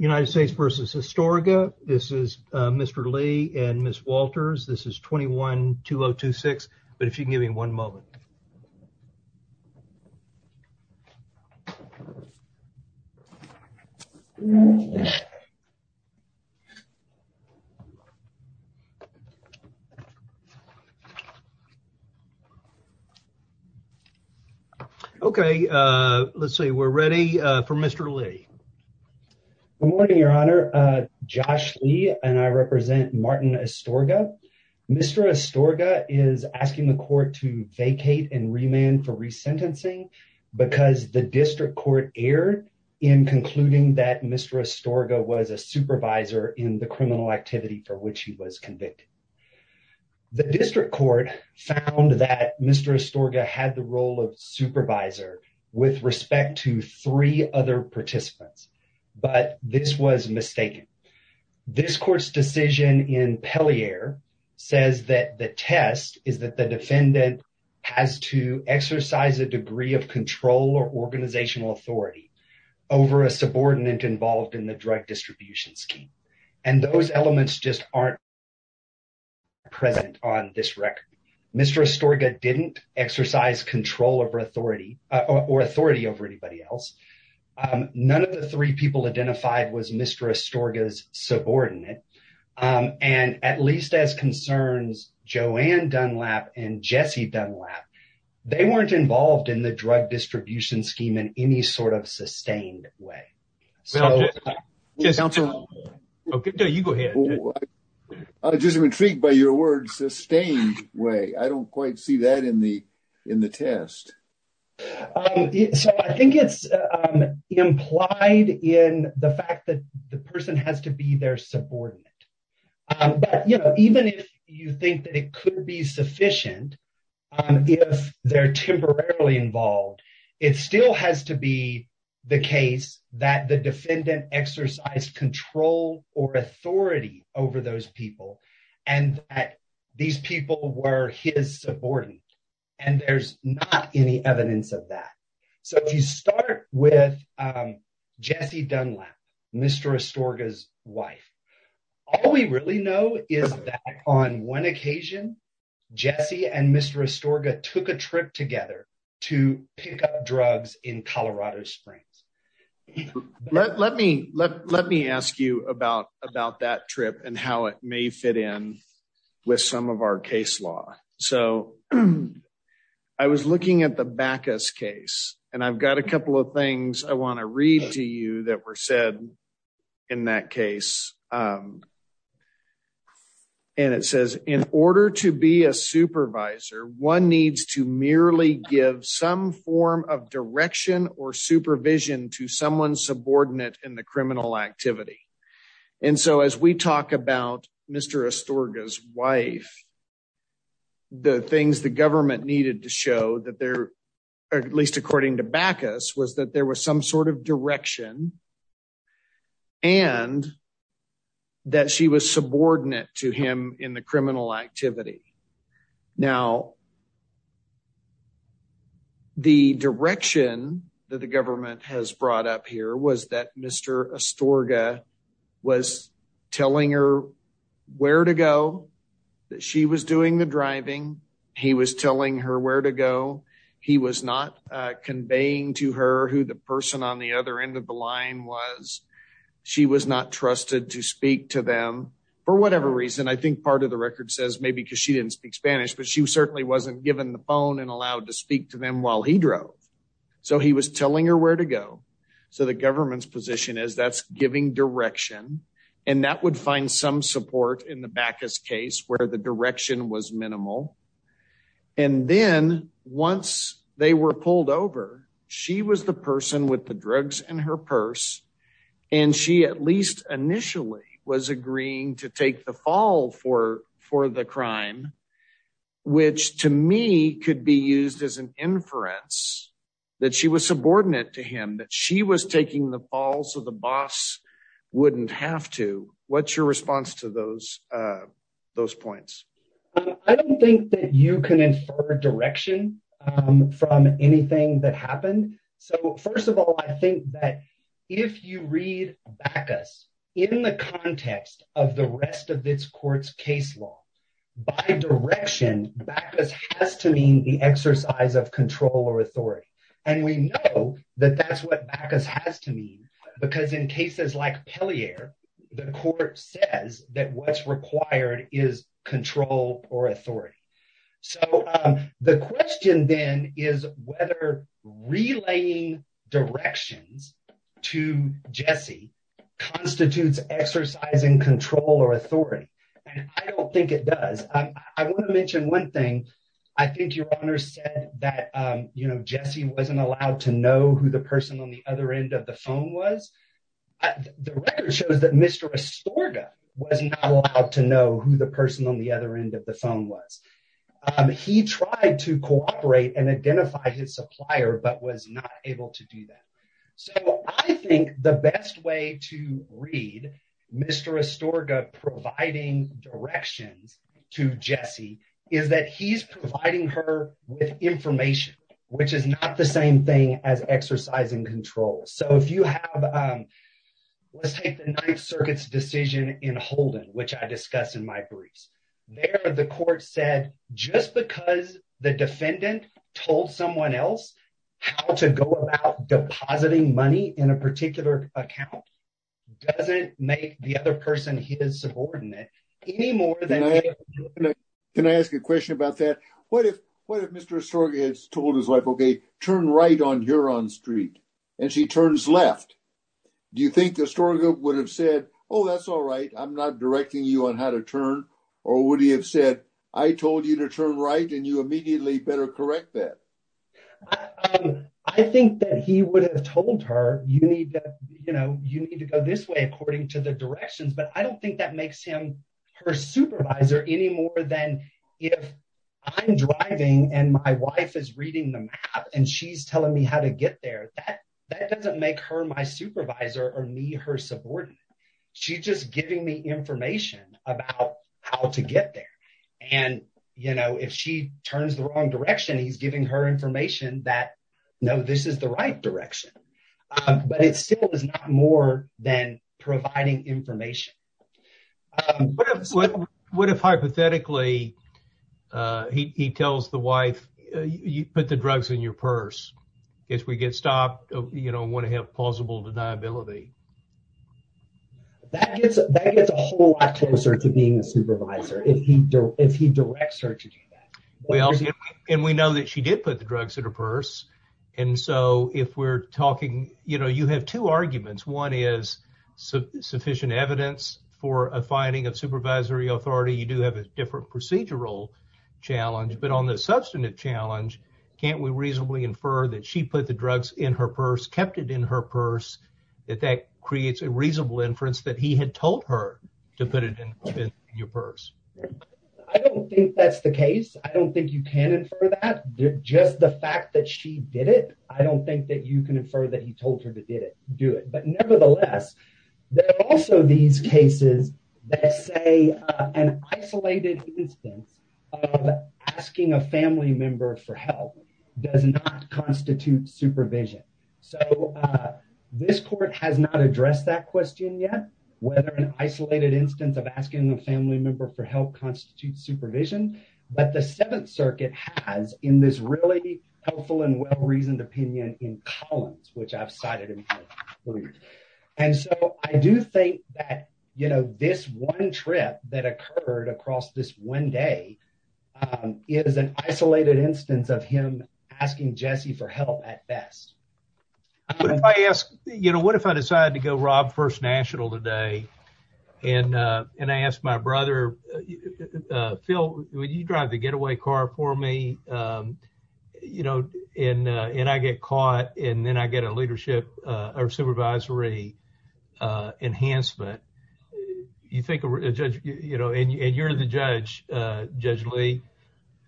United States v. Astorga. This is Mr. Lee and Ms. Walters. This is 21-2026, but if you would like to speak, please do. Good morning, Your Honor. Josh Lee and I represent Martin Astorga. Mr. Astorga is asking the court to vacate and remand for resentencing because the district court erred in concluding that Mr. Astorga was a supervisor in the criminal activity for which he was convicted. The district court found that Mr. Astorga had the role of supervisor with respect to three other participants, but this was mistaken. This court's decision in Pellier says that the test is that the defendant has to exercise a degree of control or organizational authority over a subordinate involved in the drug distribution scheme. And those elements just aren't present on this record. Mr. Astorga didn't exercise control or authority over anybody else. None of the three people identified was Mr. Astorga's subordinate. And at least as concerns Joanne Dunlap and Jesse Dunlap, they weren't involved in the drug distribution scheme in any sort of sustained way. I'm just intrigued by your words, sustained way. I don't quite see that in the test. So I think it's implied in the fact that the person has to be their subordinate. But, you know, even if you think that it could be sufficient if they're temporarily involved, it still has to be the case that the defendant exercised control or authority over those people and that these people were his subordinate. And there's not any evidence of that. So if you start with Jesse Dunlap, Mr. Astorga's wife, all we really know is that on one occasion, Jesse and Mr. Astorga took a trip together to pick up drugs in Colorado Springs. Let me let me ask you about about that trip and how it may fit in with some of our case law. So I was looking at the Backus case, and I've got a couple of things I want to read to you that were said in that case. And it says, in order to be a supervisor, one needs to merely give some form of direction or supervision to someone subordinate in the criminal activity. And so as we talk about Mr. Astorga's wife, the things the government needed to show that there, at least according to Backus, was that there was some sort of direction and that she was subordinate to him in the criminal activity. Now, the direction that the government has brought up here was that Mr. Astorga was telling her where to go, that she was doing the driving. He was telling her where to go. He was not conveying to her who the person on the other end of the line was. She was not trusted to speak to them for whatever reason. I think part of the record says maybe because she didn't speak Spanish, but she certainly wasn't given the phone and allowed to speak to them while he drove. So he was telling her where to go. So the government's position is that's giving direction, and that would find some support in the Backus case where the direction was minimal. And then once they were pulled over, she was the person with the drugs in her purse, and she at least initially was agreeing to take the fall for the crime, which to me could be used as an inference that she was subordinate to him, that she was taking the fall so the boss wouldn't have to. What's your response to those points? I don't think that you can infer direction from anything that happened. So first of all, I think that if you read Backus in the context of the rest of this court's case law, by direction, Backus has to mean the exercise of control or authority. And we know that that's what Backus has to mean, because in cases like Pellier, the court says that what's required is control or authority. So the question then is whether relaying directions to Jessie constitutes exercising control or authority. I don't think it does. I want to mention one thing. I think Your Honor said that, you know, Jessie wasn't allowed to know who the person on the other end of the phone was. The record shows that Mr. Astorga was not allowed to know who the person on the other end of the phone was. He tried to cooperate and identify his supplier, but was not able to do that. So I think the best way to read Mr. Astorga providing directions to Jessie is that he's providing her with information, which is not the same thing as exercising control. So if you have, let's take the Ninth Circuit's decision in Holden, which I discussed in my briefs. There, the court said, just because the defendant told someone else how to go about depositing money in a particular account doesn't make the other person his subordinate any more than… Can I ask a question about that? What if Mr. Astorga had told his wife, okay, turn right on Huron Street, and she turns left? Do you think Astorga would have said, oh, that's all right, I'm not directing you on how to turn? Or would he have said, I told you to turn right, and you immediately better correct that? I think that he would have told her, you need to go this way according to the directions, but I don't think that makes him her supervisor any more than if I'm driving, and my wife is reading the map, and she's telling me how to get there. That doesn't make her my supervisor or me her subordinate. She's just giving me information about how to get there. And, you know, if she turns the wrong direction, he's giving her information that, no, this is the right direction. But it still is not more than providing information. What if, hypothetically, he tells the wife, you put the drugs in your purse. If we get stopped, you don't want to have plausible deniability. That gets a whole lot closer to being a supervisor if he directs her to do that. And we know that she did put the drugs in her purse. And so if we're talking, you know, you have two arguments. One is sufficient evidence for a finding of supervisory authority. You do have a different procedural challenge. But on the substantive challenge, can't we reasonably infer that she put the drugs in her purse, kept it in her purse, that that creates a reasonable inference that he had told her to put it in your purse? I don't think that's the case. I don't think you can infer that. Just the fact that she did it, I don't think that you can infer that he told her to do it. But nevertheless, there are also these cases that say an isolated instance of asking a family member for help does not constitute supervision. So this court has not addressed that question yet, whether an isolated instance of asking a family member for help constitutes supervision. But the Seventh Circuit has in this really helpful and well-reasoned opinion in Collins, which I've cited. And so I do think that, you know, this one trip that occurred across this one day is an isolated instance of him asking Jesse for help at best. But if I ask, you know, what if I decide to go rob First National today and I ask my brother, Phil, would you drive the getaway car for me? You know, and I get caught and then I get a leadership or supervisory enhancement. You think a judge, you know, and you're the judge, Judge Lee,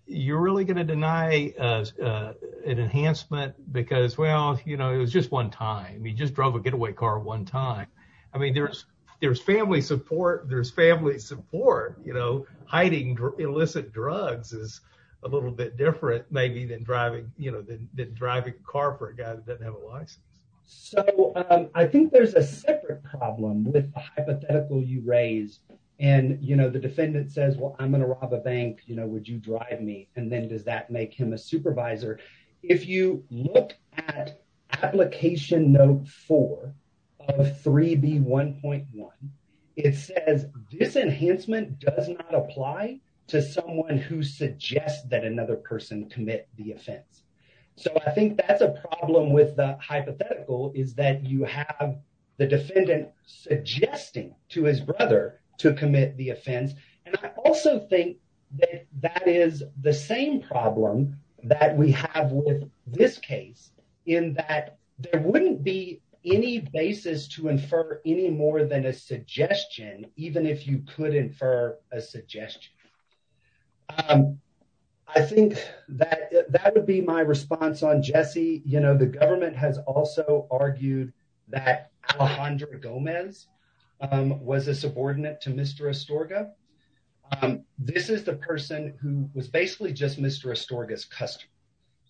you're really going to deny an enhancement because, well, you know, it was just one time. You just drove a getaway car one time. I mean, there's family support. There's family support. You know, hiding illicit drugs is a little bit different maybe than driving, you know, than driving a car for a guy that doesn't have a license. So I think there's a separate problem with the hypothetical you raised. And, you know, the defendant says, well, I'm going to rob a bank, you know, would you drive me? And then does that make him a supervisor? If you look at Application Note 4 of 3B1.1, it says this enhancement does not apply to someone who suggests that another person commit the offense. So I think that's a problem with the hypothetical is that you have the defendant suggesting to his brother to commit the offense. And I also think that that is the same problem that we have with this case in that there wouldn't be any basis to infer any more than a suggestion, even if you could infer a suggestion. I think that that would be my response on Jesse. You know, the government has also argued that Alejandra Gomez was a subordinate to Mr. Astorga. This is the person who was basically just Mr. Astorga's customer,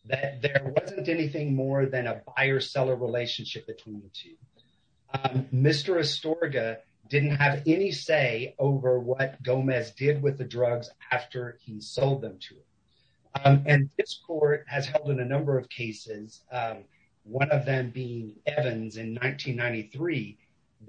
that there wasn't anything more than a buyer seller relationship between the two. Mr. Astorga didn't have any say over what Gomez did with the drugs after he sold them to him. And this court has held in a number of cases, one of them being Evans in 1993,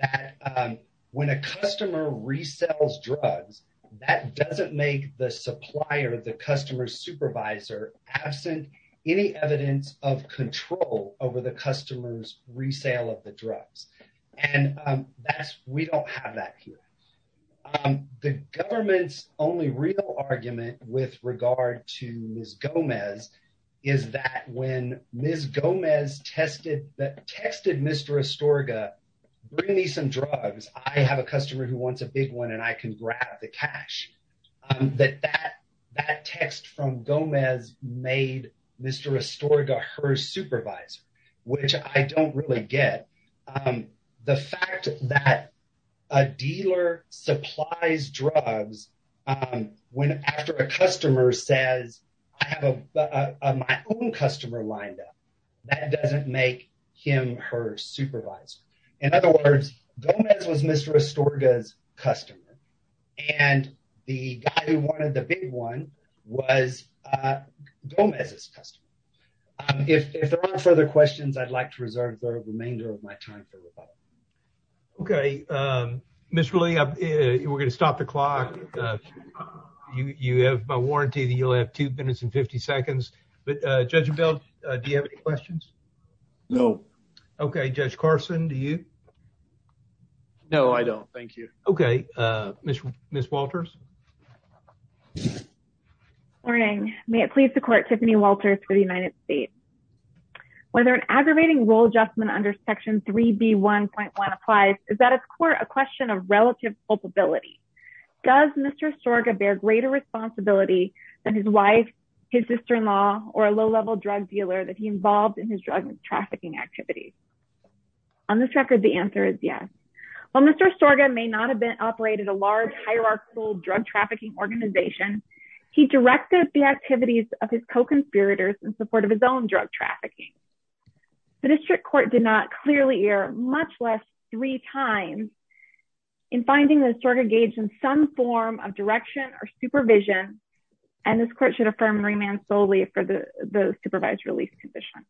that when a customer resells drugs, that doesn't make the supplier, the customer supervisor, absent any evidence of control over the customer's resale of the drugs. And that's we don't have that here. The government's only real argument with regard to Ms. Gomez is that when Ms. Gomez tested that texted Mr. Astorga, bring me some drugs. I have a customer who wants a big one and I can grab the cash that that that text from Gomez made Mr. Astorga her supervisor, which I don't really get the fact that a dealer supplies drugs when after a customer says I have my own customer lined up. That doesn't make him her supervisor. In other words, Gomez was Mr. Astorga's customer and the guy who wanted the big one was Gomez's customer. If there are further questions, I'd like to reserve the remainder of my time. OK, Mr. Lee, we're going to stop the clock. You have a warranty that you'll have two minutes and 50 seconds. But Judge Bell, do you have any questions? No. OK, Judge Carson, do you? No, I don't. Thank you. OK, Mr. Miss Walters. Morning. May it please the court. Tiffany Walters for the United States. Whether an aggravating rule adjustment under Section 3B 1.1 applies, is that it's a question of relative culpability. Does Mr. Astorga bear greater responsibility than his wife, his sister-in-law or a low level drug dealer that he involved in his drug trafficking activities? On this record, the answer is yes. While Mr. Astorga may not have been operated a large, hierarchical drug trafficking organization, he directed the activities of his co-conspirators in support of his own drug trafficking. The district court did not clearly hear much less three times in finding that Astorga engaged in some form of direction or supervision. And this court should affirm remand solely for the supervised release condition.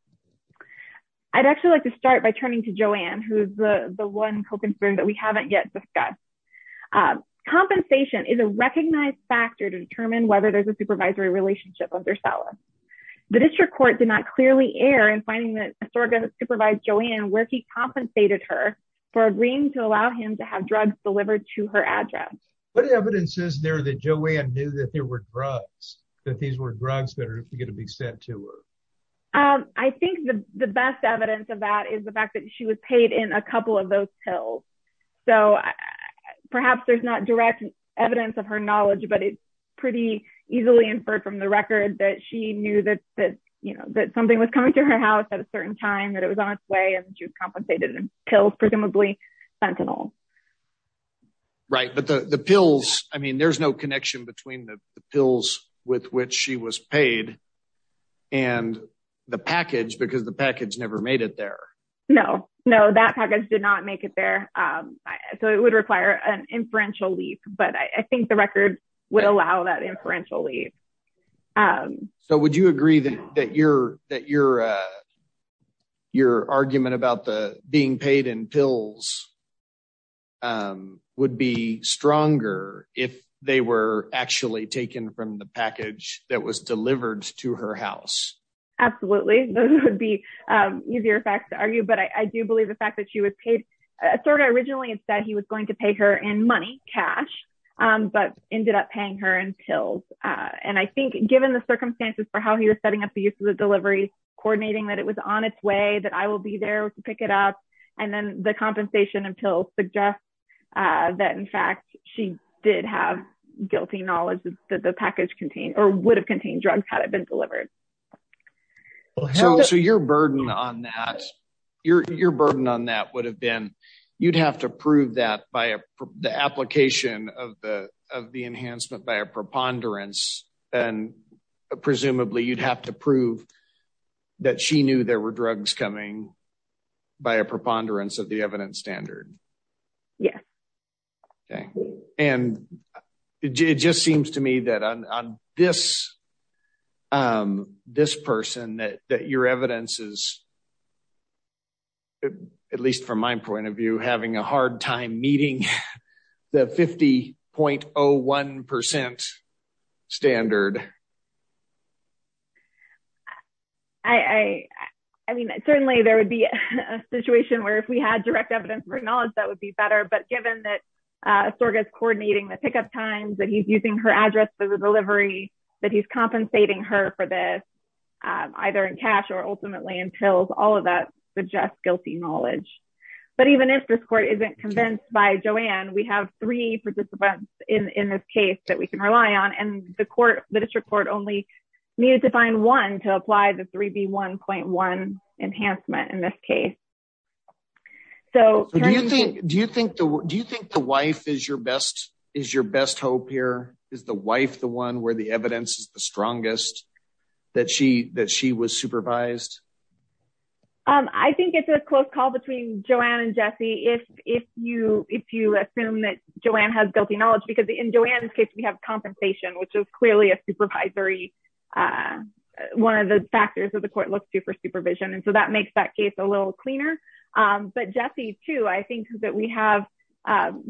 I'd actually like to start by turning to Joanne, who's the one co-conspirator that we haven't yet discussed. Compensation is a recognized factor to determine whether there's a supervisory relationship of their seller. The district court did not clearly air in finding that Astorga supervised Joanne where he compensated her for agreeing to allow him to have drugs delivered to her address. What evidence is there that Joanne knew that there were drugs, that these were drugs that are going to be sent to her? I think the best evidence of that is the fact that she was paid in a couple of those pills. So perhaps there's not direct evidence of her knowledge, but it's pretty easily inferred from the record that she knew that something was coming to her house at a certain time, that it was on its way, and she was compensated in pills, presumably fentanyl. Right, but the pills, I mean, there's no connection between the pills with which she was paid and the package because the package never made it there. No, no, that package did not make it there. So it would require an inferential leave. But I think the record would allow that inferential leave. So would you agree that your argument about the being paid in pills would be stronger if they were actually taken from the package that was delivered to her house? Absolutely. Those would be easier facts to argue. But I do believe the fact that she was paid, sort of originally it said he was going to pay her in money, cash, but ended up paying her in pills. And I think given the circumstances for how he was setting up the use of the delivery, coordinating that it was on its way, that I will be there to pick it up. And then the compensation in pills suggests that, in fact, she did have guilty knowledge that the package contained or would have contained drugs had it been delivered. So your burden on that, your burden on that would have been you'd have to prove that by the application of the of the enhancement by a preponderance. And presumably you'd have to prove that she knew there were drugs coming by a preponderance of the evidence standard. Yes. And it just seems to me that on this, this person that your evidence is, at least from my point of view, having a hard time meeting the 50.01 percent standard. I mean, certainly there would be a situation where if we had direct evidence for knowledge, that would be better. But given that Sorgas coordinating the pickup times, that he's using her address for the delivery, that he's compensating her for this, either in cash or ultimately in pills, all of that suggests guilty knowledge. But even if this court isn't convinced by Joanne, we have three participants in this case that we can rely on. And the court, the district court only needed to find one to apply the 3B1.1 enhancement in this case. So do you think do you think the do you think the wife is your best is your best hope here is the wife, the one where the evidence is the strongest that she that she was supervised? I think it's a close call between Joanne and Jesse. If if you if you assume that Joanne has guilty knowledge, because in Joanne's case, we have compensation, which is clearly a supervisory. One of the factors that the court looks to for supervision. And so that makes that case a little cleaner. But Jesse, too, I think that we have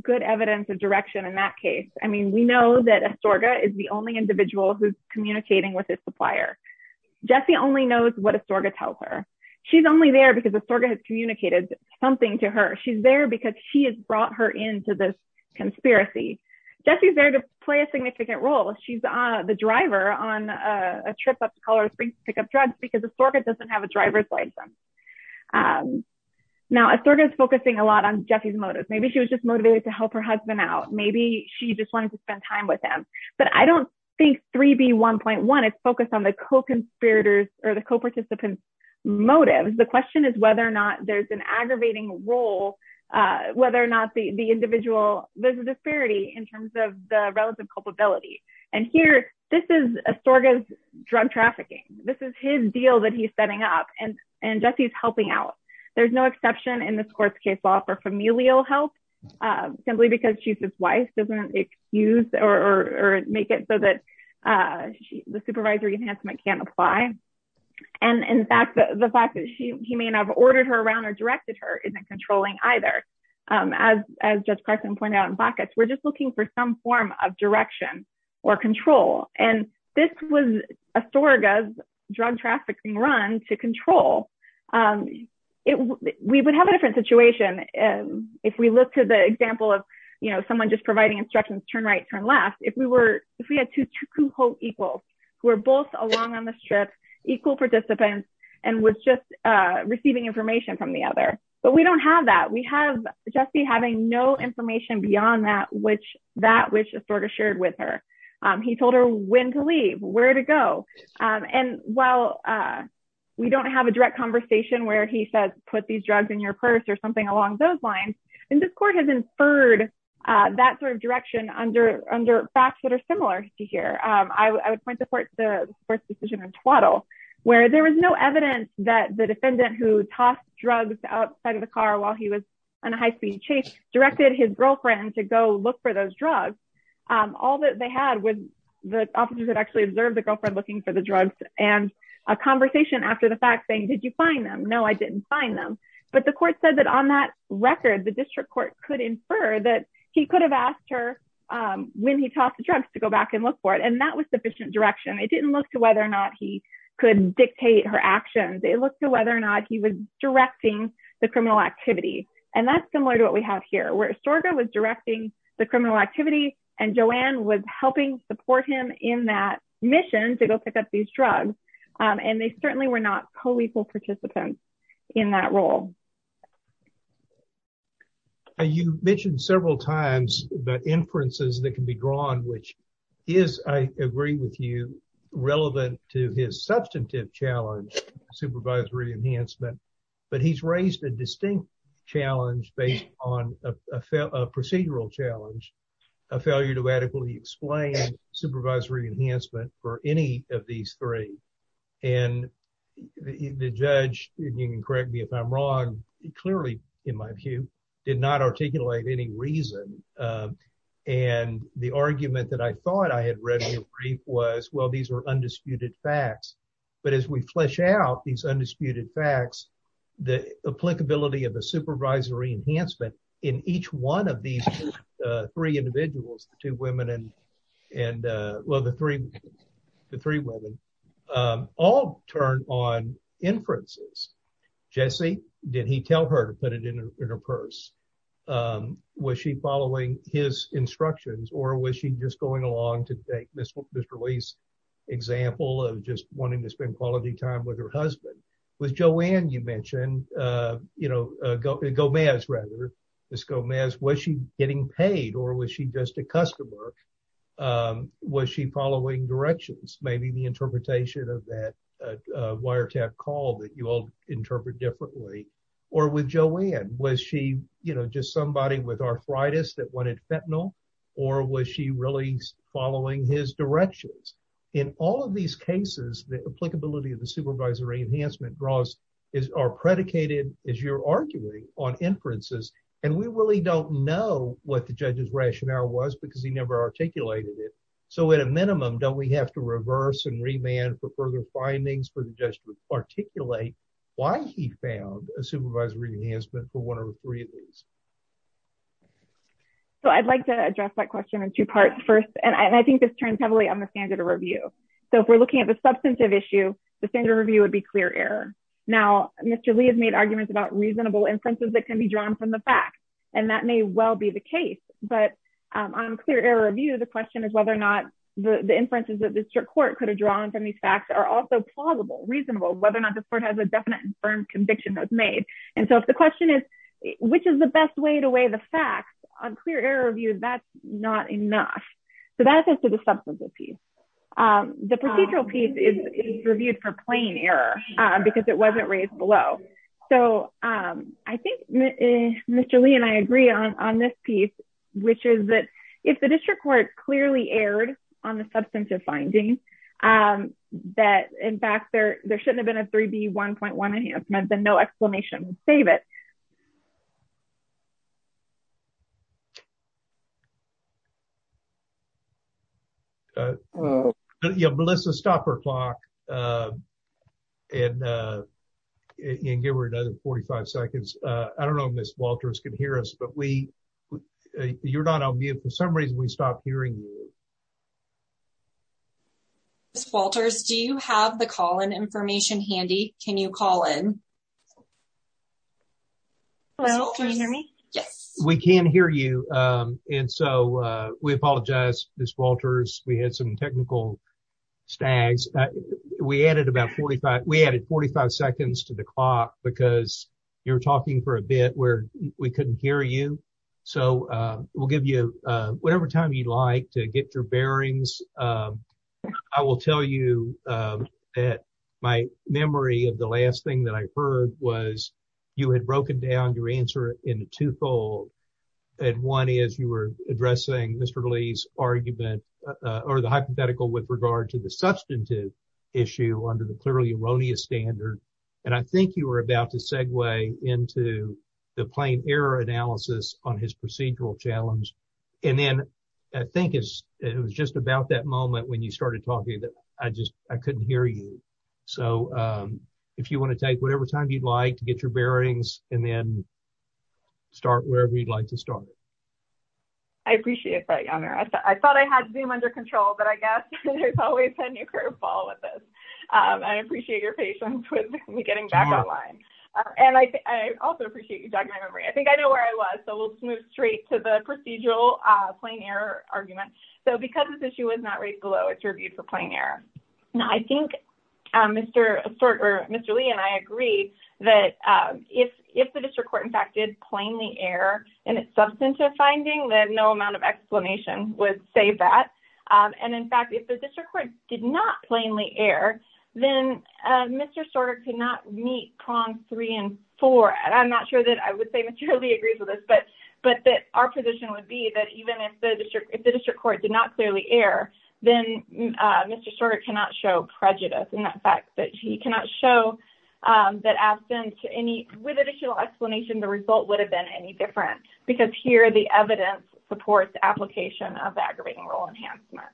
good evidence of direction in that case. I mean, we know that a Sorgas is the only individual who's communicating with his supplier. Jesse only knows what a Sorgas tells her. She's only there because a Sorgas has communicated something to her. She's there because she has brought her into this conspiracy. Jesse's there to play a significant role. She's the driver on a trip up to Colorado Springs to pick up drugs because a Sorgas doesn't have a driver's license. Now, a Sorgas is focusing a lot on Jesse's motives. Maybe she was just motivated to help her husband out. Maybe she just wanted to spend time with him. But I don't think 3B1.1 is focused on the co-conspirators or the co-participants motives. The question is whether or not there's an aggravating role, whether or not the individual, there's a disparity in terms of the relative culpability. And here, this is a Sorgas drug trafficking. This is his deal that he's setting up. And Jesse's helping out. There's no exception in this court's case law for familial help, simply because she's his wife doesn't excuse or make it so that the supervisory enhancement can't apply. And in fact, the fact that he may not have ordered her around or directed her isn't controlling either. As Judge Carson pointed out in Buckets, we're just looking for some form of direction or control. And this was a Sorgas drug trafficking run to control. We would have a different situation if we look to the example of, you know, someone just providing instructions, turn right, turn left. If we were, if we had two equals who are both along on the strip, equal participants and was just receiving information from the other. But we don't have that. We have Jesse having no information beyond that, which that which Sorgas shared with her. He told her when to leave, where to go. And while we don't have a direct conversation where he says, put these drugs in your purse or something along those lines. And this court has inferred that sort of direction under under facts that are similar to here. I would point the court's decision in Twaddle, where there was no evidence that the defendant who tossed drugs outside of the car while he was on a high speed chase directed his girlfriend to go look for those drugs. All that they had was the officers that actually observed the girlfriend looking for the drugs and a conversation after the fact saying, did you find them? No, I didn't find them. But the court said that on that record, the district court could infer that he could have asked her when he tossed the drugs to go back and look for it. And that was sufficient direction. It didn't look to whether or not he could dictate her actions. It looked to whether or not he was directing the criminal activity. And that's similar to what we have here, where Sorgas was directing the criminal activity and Joanne was helping support him in that mission to go pick up these drugs. And they certainly were not co-lethal participants in that role. You mentioned several times that inferences that can be drawn, which is, I agree with you, relevant to his substantive challenge, supervisory enhancement. But he's raised a distinct challenge based on a procedural challenge, a failure to adequately explain supervisory enhancement for any of these three. And the judge, you can correct me if I'm wrong, clearly, in my view, did not articulate any reason. And the argument that I thought I had read in your brief was, well, these are undisputed facts. But as we flesh out these undisputed facts, the applicability of a supervisory enhancement in each one of these three individuals, the three women, all turned on inferences. Jesse, did he tell her to put it in her purse? Was she following his instructions or was she just going along to take Mr. Lee's example of just wanting to spend quality time with her husband? With Joanne, you mentioned, you know, Gomez, rather, Ms. Gomez, was she getting paid or was she just a customer? Was she following directions, maybe the interpretation of that wiretap call that you all interpret differently? Or with Joanne, was she, you know, just somebody with arthritis that wanted fentanyl or was she really following his directions? In all of these cases, the applicability of the supervisory enhancement draws are predicated, as you're arguing, on inferences. And we really don't know what the judge's rationale was because he never articulated it. So at a minimum, don't we have to reverse and remand for further findings for the judge to articulate why he found a supervisory enhancement for one of the three of these? So I'd like to address that question in two parts first, and I think this turns heavily on the standard of review. So if we're looking at the substantive issue, the standard review would be clear error. Now, Mr. Lee has made arguments about reasonable inferences that can be drawn from the facts, and that may well be the case. But on clear error review, the question is whether or not the inferences that the district court could have drawn from these facts are also plausible, reasonable, whether or not the court has a definite and firm conviction that was made. And so if the question is, which is the best way to weigh the facts on clear error review, that's not enough. So that's as to the substantive piece. The procedural piece is reviewed for plain error because it wasn't raised below. So I think Mr. Lee and I agree on this piece, which is that if the district court clearly erred on the substantive findings, that in fact, there shouldn't have been a 3B1.1 enhancement, then no exclamation would save it. Melissa, stop your clock and give her another 45 seconds. I don't know if Ms. Walters can hear us, but you're not on mute. For some reason, we stopped hearing you. Ms. Walters, do you have the call-in information handy? Can you call in? Hello, can you hear me? Yes. We can hear you. And so we apologize, Ms. Walters. We had some technical stags. We added 45 seconds to the clock because you were talking for a bit where we couldn't hear you. So we'll give you whatever time you'd like to get your bearings. I will tell you that my memory of the last thing that I heard was you had broken down your answer into twofold. And one is you were addressing Mr. Lee's argument or the hypothetical with regard to the substantive issue under the clearly erroneous standard. And I think you were about to segue into the plain error analysis on his procedural challenge. And then I think it was just about that moment when you started talking that I just I couldn't hear you. So if you want to take whatever time you'd like to get your bearings and then start wherever you'd like to start. I appreciate that. I thought I had Zoom under control, but I guess there's always a new curveball with this. I appreciate your patience with me getting back online. And I also appreciate you jogging my memory. I think I know where I was. So let's move straight to the procedural plain error argument. So because this issue was not raised below, it's reviewed for plain error. Now, I think Mr. Lee and I agree that if the district court, in fact, did plainly err in its substantive finding, then no amount of explanation would save that. And in fact, if the district court did not plainly err, then Mr. Sorter could not meet prongs three and four. And I'm not sure that I would say Mr. Lee agrees with us, but that our position would be that even if the district court did not clearly err, then Mr. Sorter cannot show prejudice in that fact that he cannot show that absence to any with additional explanation, the result would have been any different because here the evidence supports application of aggravating role enhancement.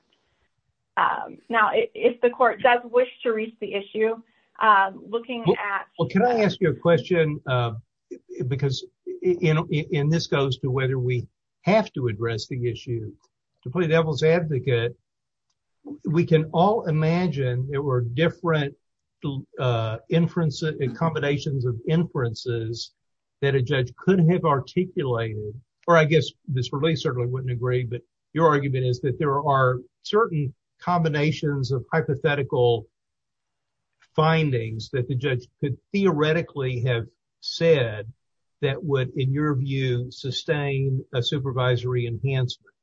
Now, if the court does wish to reach the issue looking at. Well, can I ask you a question? Because in this goes to whether we have to address the issue to play devil's advocate. We can all imagine there were different inferences and combinations of inferences that a judge could have articulated. Or I guess this release certainly wouldn't agree. But your argument is that there are certain combinations of hypothetical. Findings that the judge could theoretically have said that would, in your view, sustain a supervisory enhancement.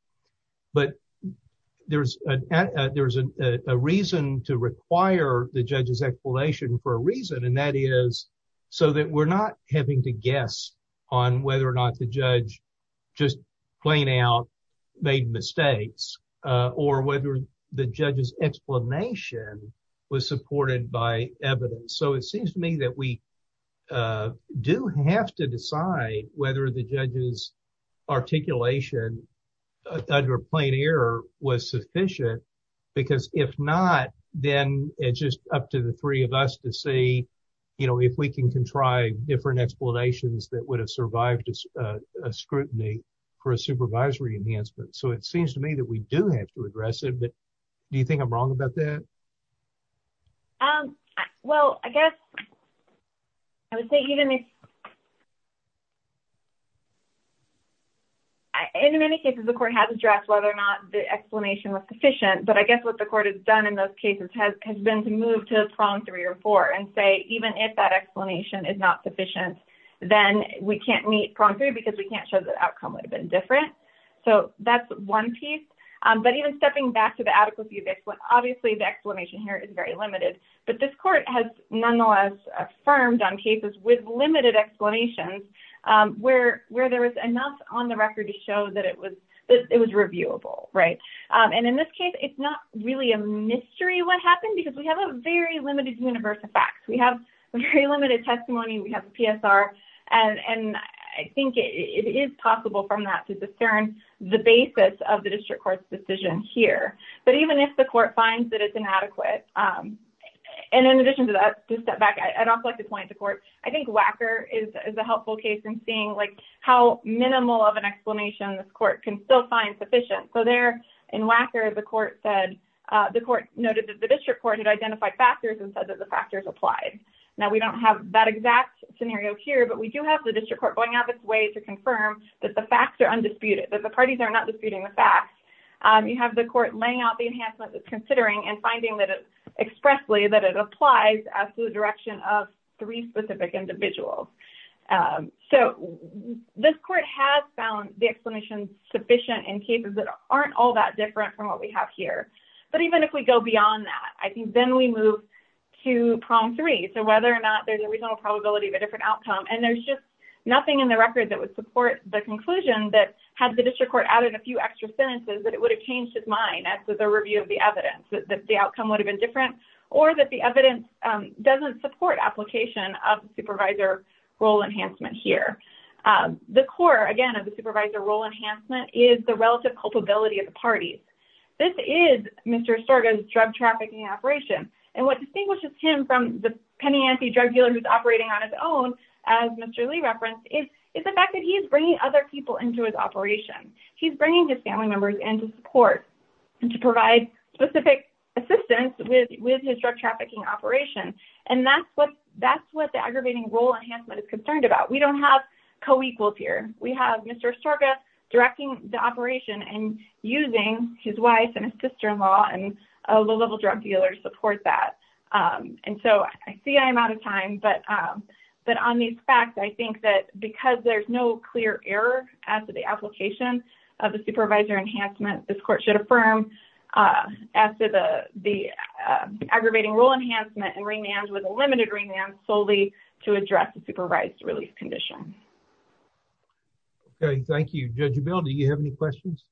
But there's a there's a reason to require the judge's explanation for a reason. And that is so that we're not having to guess on whether or not the judge just plain out made mistakes or whether the judge's explanation was supported by evidence. So it seems to me that we do have to decide whether the judge's articulation under plain air was sufficient, because if not, then it's just up to the three of us to say, you know, if we can contrive different explanations that would have survived a scrutiny for a supervisory enhancement. So it seems to me that we do have to address it. But do you think I'm wrong about that? Well, I guess I would say even if. In many cases, the court has addressed whether or not the explanation was sufficient, but I guess what the court has done in those cases has been to move to prong three or four and say, even if that explanation is not sufficient, then we can't meet prong three because we can't show the outcome would have been different. So that's one piece. But even stepping back to the adequacy of this, obviously, the explanation here is very limited. But this court has nonetheless affirmed on cases with limited explanations where there was enough on the record to show that it was reviewable. And in this case, it's not really a mystery what happened because we have a very limited universe of facts. We have a very limited testimony. We have a PSR. And I think it is possible from that to discern the basis of the district court's decision here. But even if the court finds that it's inadequate, and in addition to that, to step back, I'd also like to point to court. I think WACKER is a helpful case in seeing like how minimal of an explanation this court can still find sufficient. So there in WACKER, the court said the court noted that the district court had identified factors and said that the factors applied. Now, we don't have that exact scenario here, but we do have the district court going out of its way to confirm that the facts are undisputed, that the parties are not disputing the facts. You have the court laying out the enhancement that's considering and finding that expressly that it applies to the direction of three specific individuals. So this court has found the explanation sufficient in cases that aren't all that different from what we have here. But even if we go beyond that, I think then we move to problem three, so whether or not there's a reasonable probability of a different outcome. And there's just nothing in the record that would support the conclusion that had the district court added a few extra sentences, that it would have changed its mind. So we're going to move on to problem four, and that's with a review of the evidence, that the outcome would have been different or that the evidence doesn't support application of supervisor role enhancement here. The core, again, of the supervisor role enhancement is the relative culpability of the parties. This is Mr. Estorga's drug trafficking operation. And what distinguishes him from the penny ante drug dealer who's operating on his own, as Mr. Lee referenced, is the fact that he's bringing other people into his operation. He's bringing his family members into support to provide specific assistance with his drug trafficking operation. And that's what the aggravating role enhancement is concerned about. We don't have co-equals here. We have Mr. Estorga directing the operation and using his wife and his sister-in-law and a low-level drug dealer to support that. And so I see I'm out of time, but on these facts, I think that because there's no clear error as to the application of the supervisor enhancement, this court should affirm as to the aggravating role enhancement and remand with a limited remand solely to address the supervised release condition. Okay, thank you. Judge Abell, do you have any questions?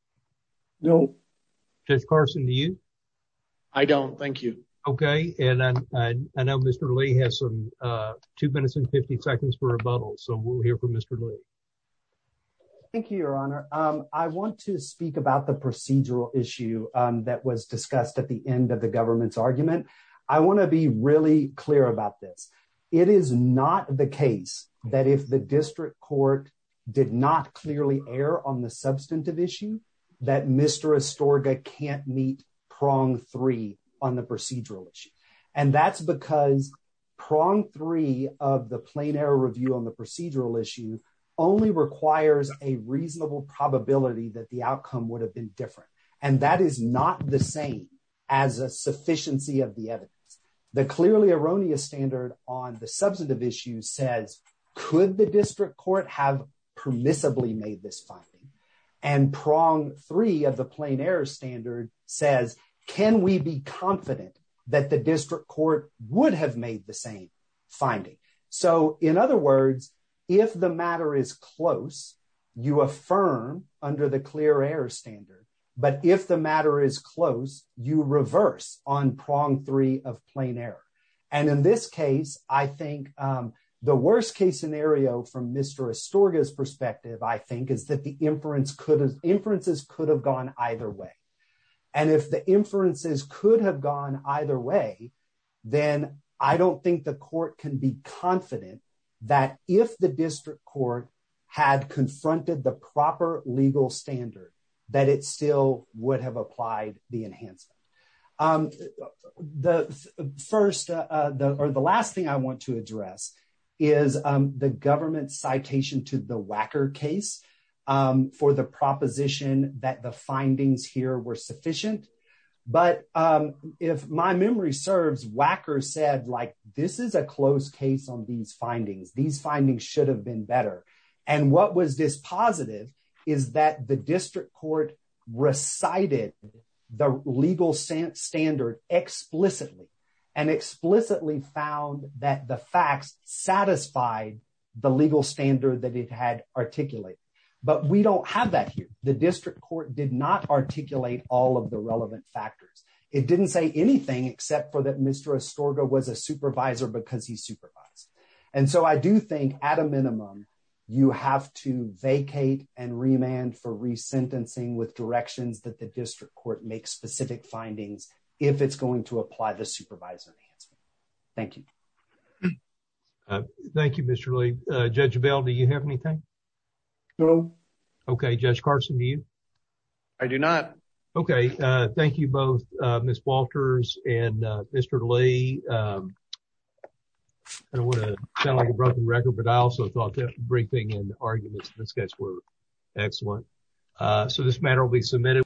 No. Judge Carson, do you? I don't, thank you. Okay, and I know Mr. Lee has two minutes and 50 seconds for rebuttal, so we'll hear from Mr. Lee. Thank you, Your Honor. I want to speak about the procedural issue that was discussed at the end of the government's argument. I want to be really clear about this. It is not the case that if the district court did not clearly err on the substantive issue, that Mr. Estorga can't meet prong three on the procedural issue. And that's because prong three of the plain error review on the procedural issue only requires a reasonable probability that the outcome would have been different. And that is not the same as a sufficiency of the evidence. The clearly erroneous standard on the substantive issue says, could the district court have permissibly made this finding? And prong three of the plain error standard says, can we be confident that the district court would have made the same finding? So, in other words, if the matter is close, you affirm under the clear error standard. But if the matter is close, you reverse on prong three of plain error. And in this case, I think the worst case scenario from Mr. Estorga's perspective, I think, is that the inferences could have gone either way. And if the inferences could have gone either way, then I don't think the court can be confident that if the district court had confronted the proper legal standard, that it still would have applied the enhancement. The first or the last thing I want to address is the government citation to the Wacker case for the proposition that the findings here were sufficient. But if my memory serves, Wacker said, like, this is a close case on these findings. These findings should have been better. And what was this positive is that the district court recited the legal standard explicitly and explicitly found that the facts satisfied the legal standard that it had articulated. But we don't have that here. The district court did not articulate all of the relevant factors. It didn't say anything except for that Mr. Estorga was a supervisor because he supervised. And so I do think, at a minimum, you have to vacate and remand for resentencing with directions that the district court make specific findings if it's going to apply the supervisor enhancement. Thank you. Thank you, Mr. Lee. Judge Bell, do you have anything? No. Okay, Judge Carson, do you? I do not. Okay, thank you both, Ms. Walters and Mr. Lee. I don't want to sound like a broken record, but I also thought that briefing and arguments in the sketch were excellent. So this matter will be submitted.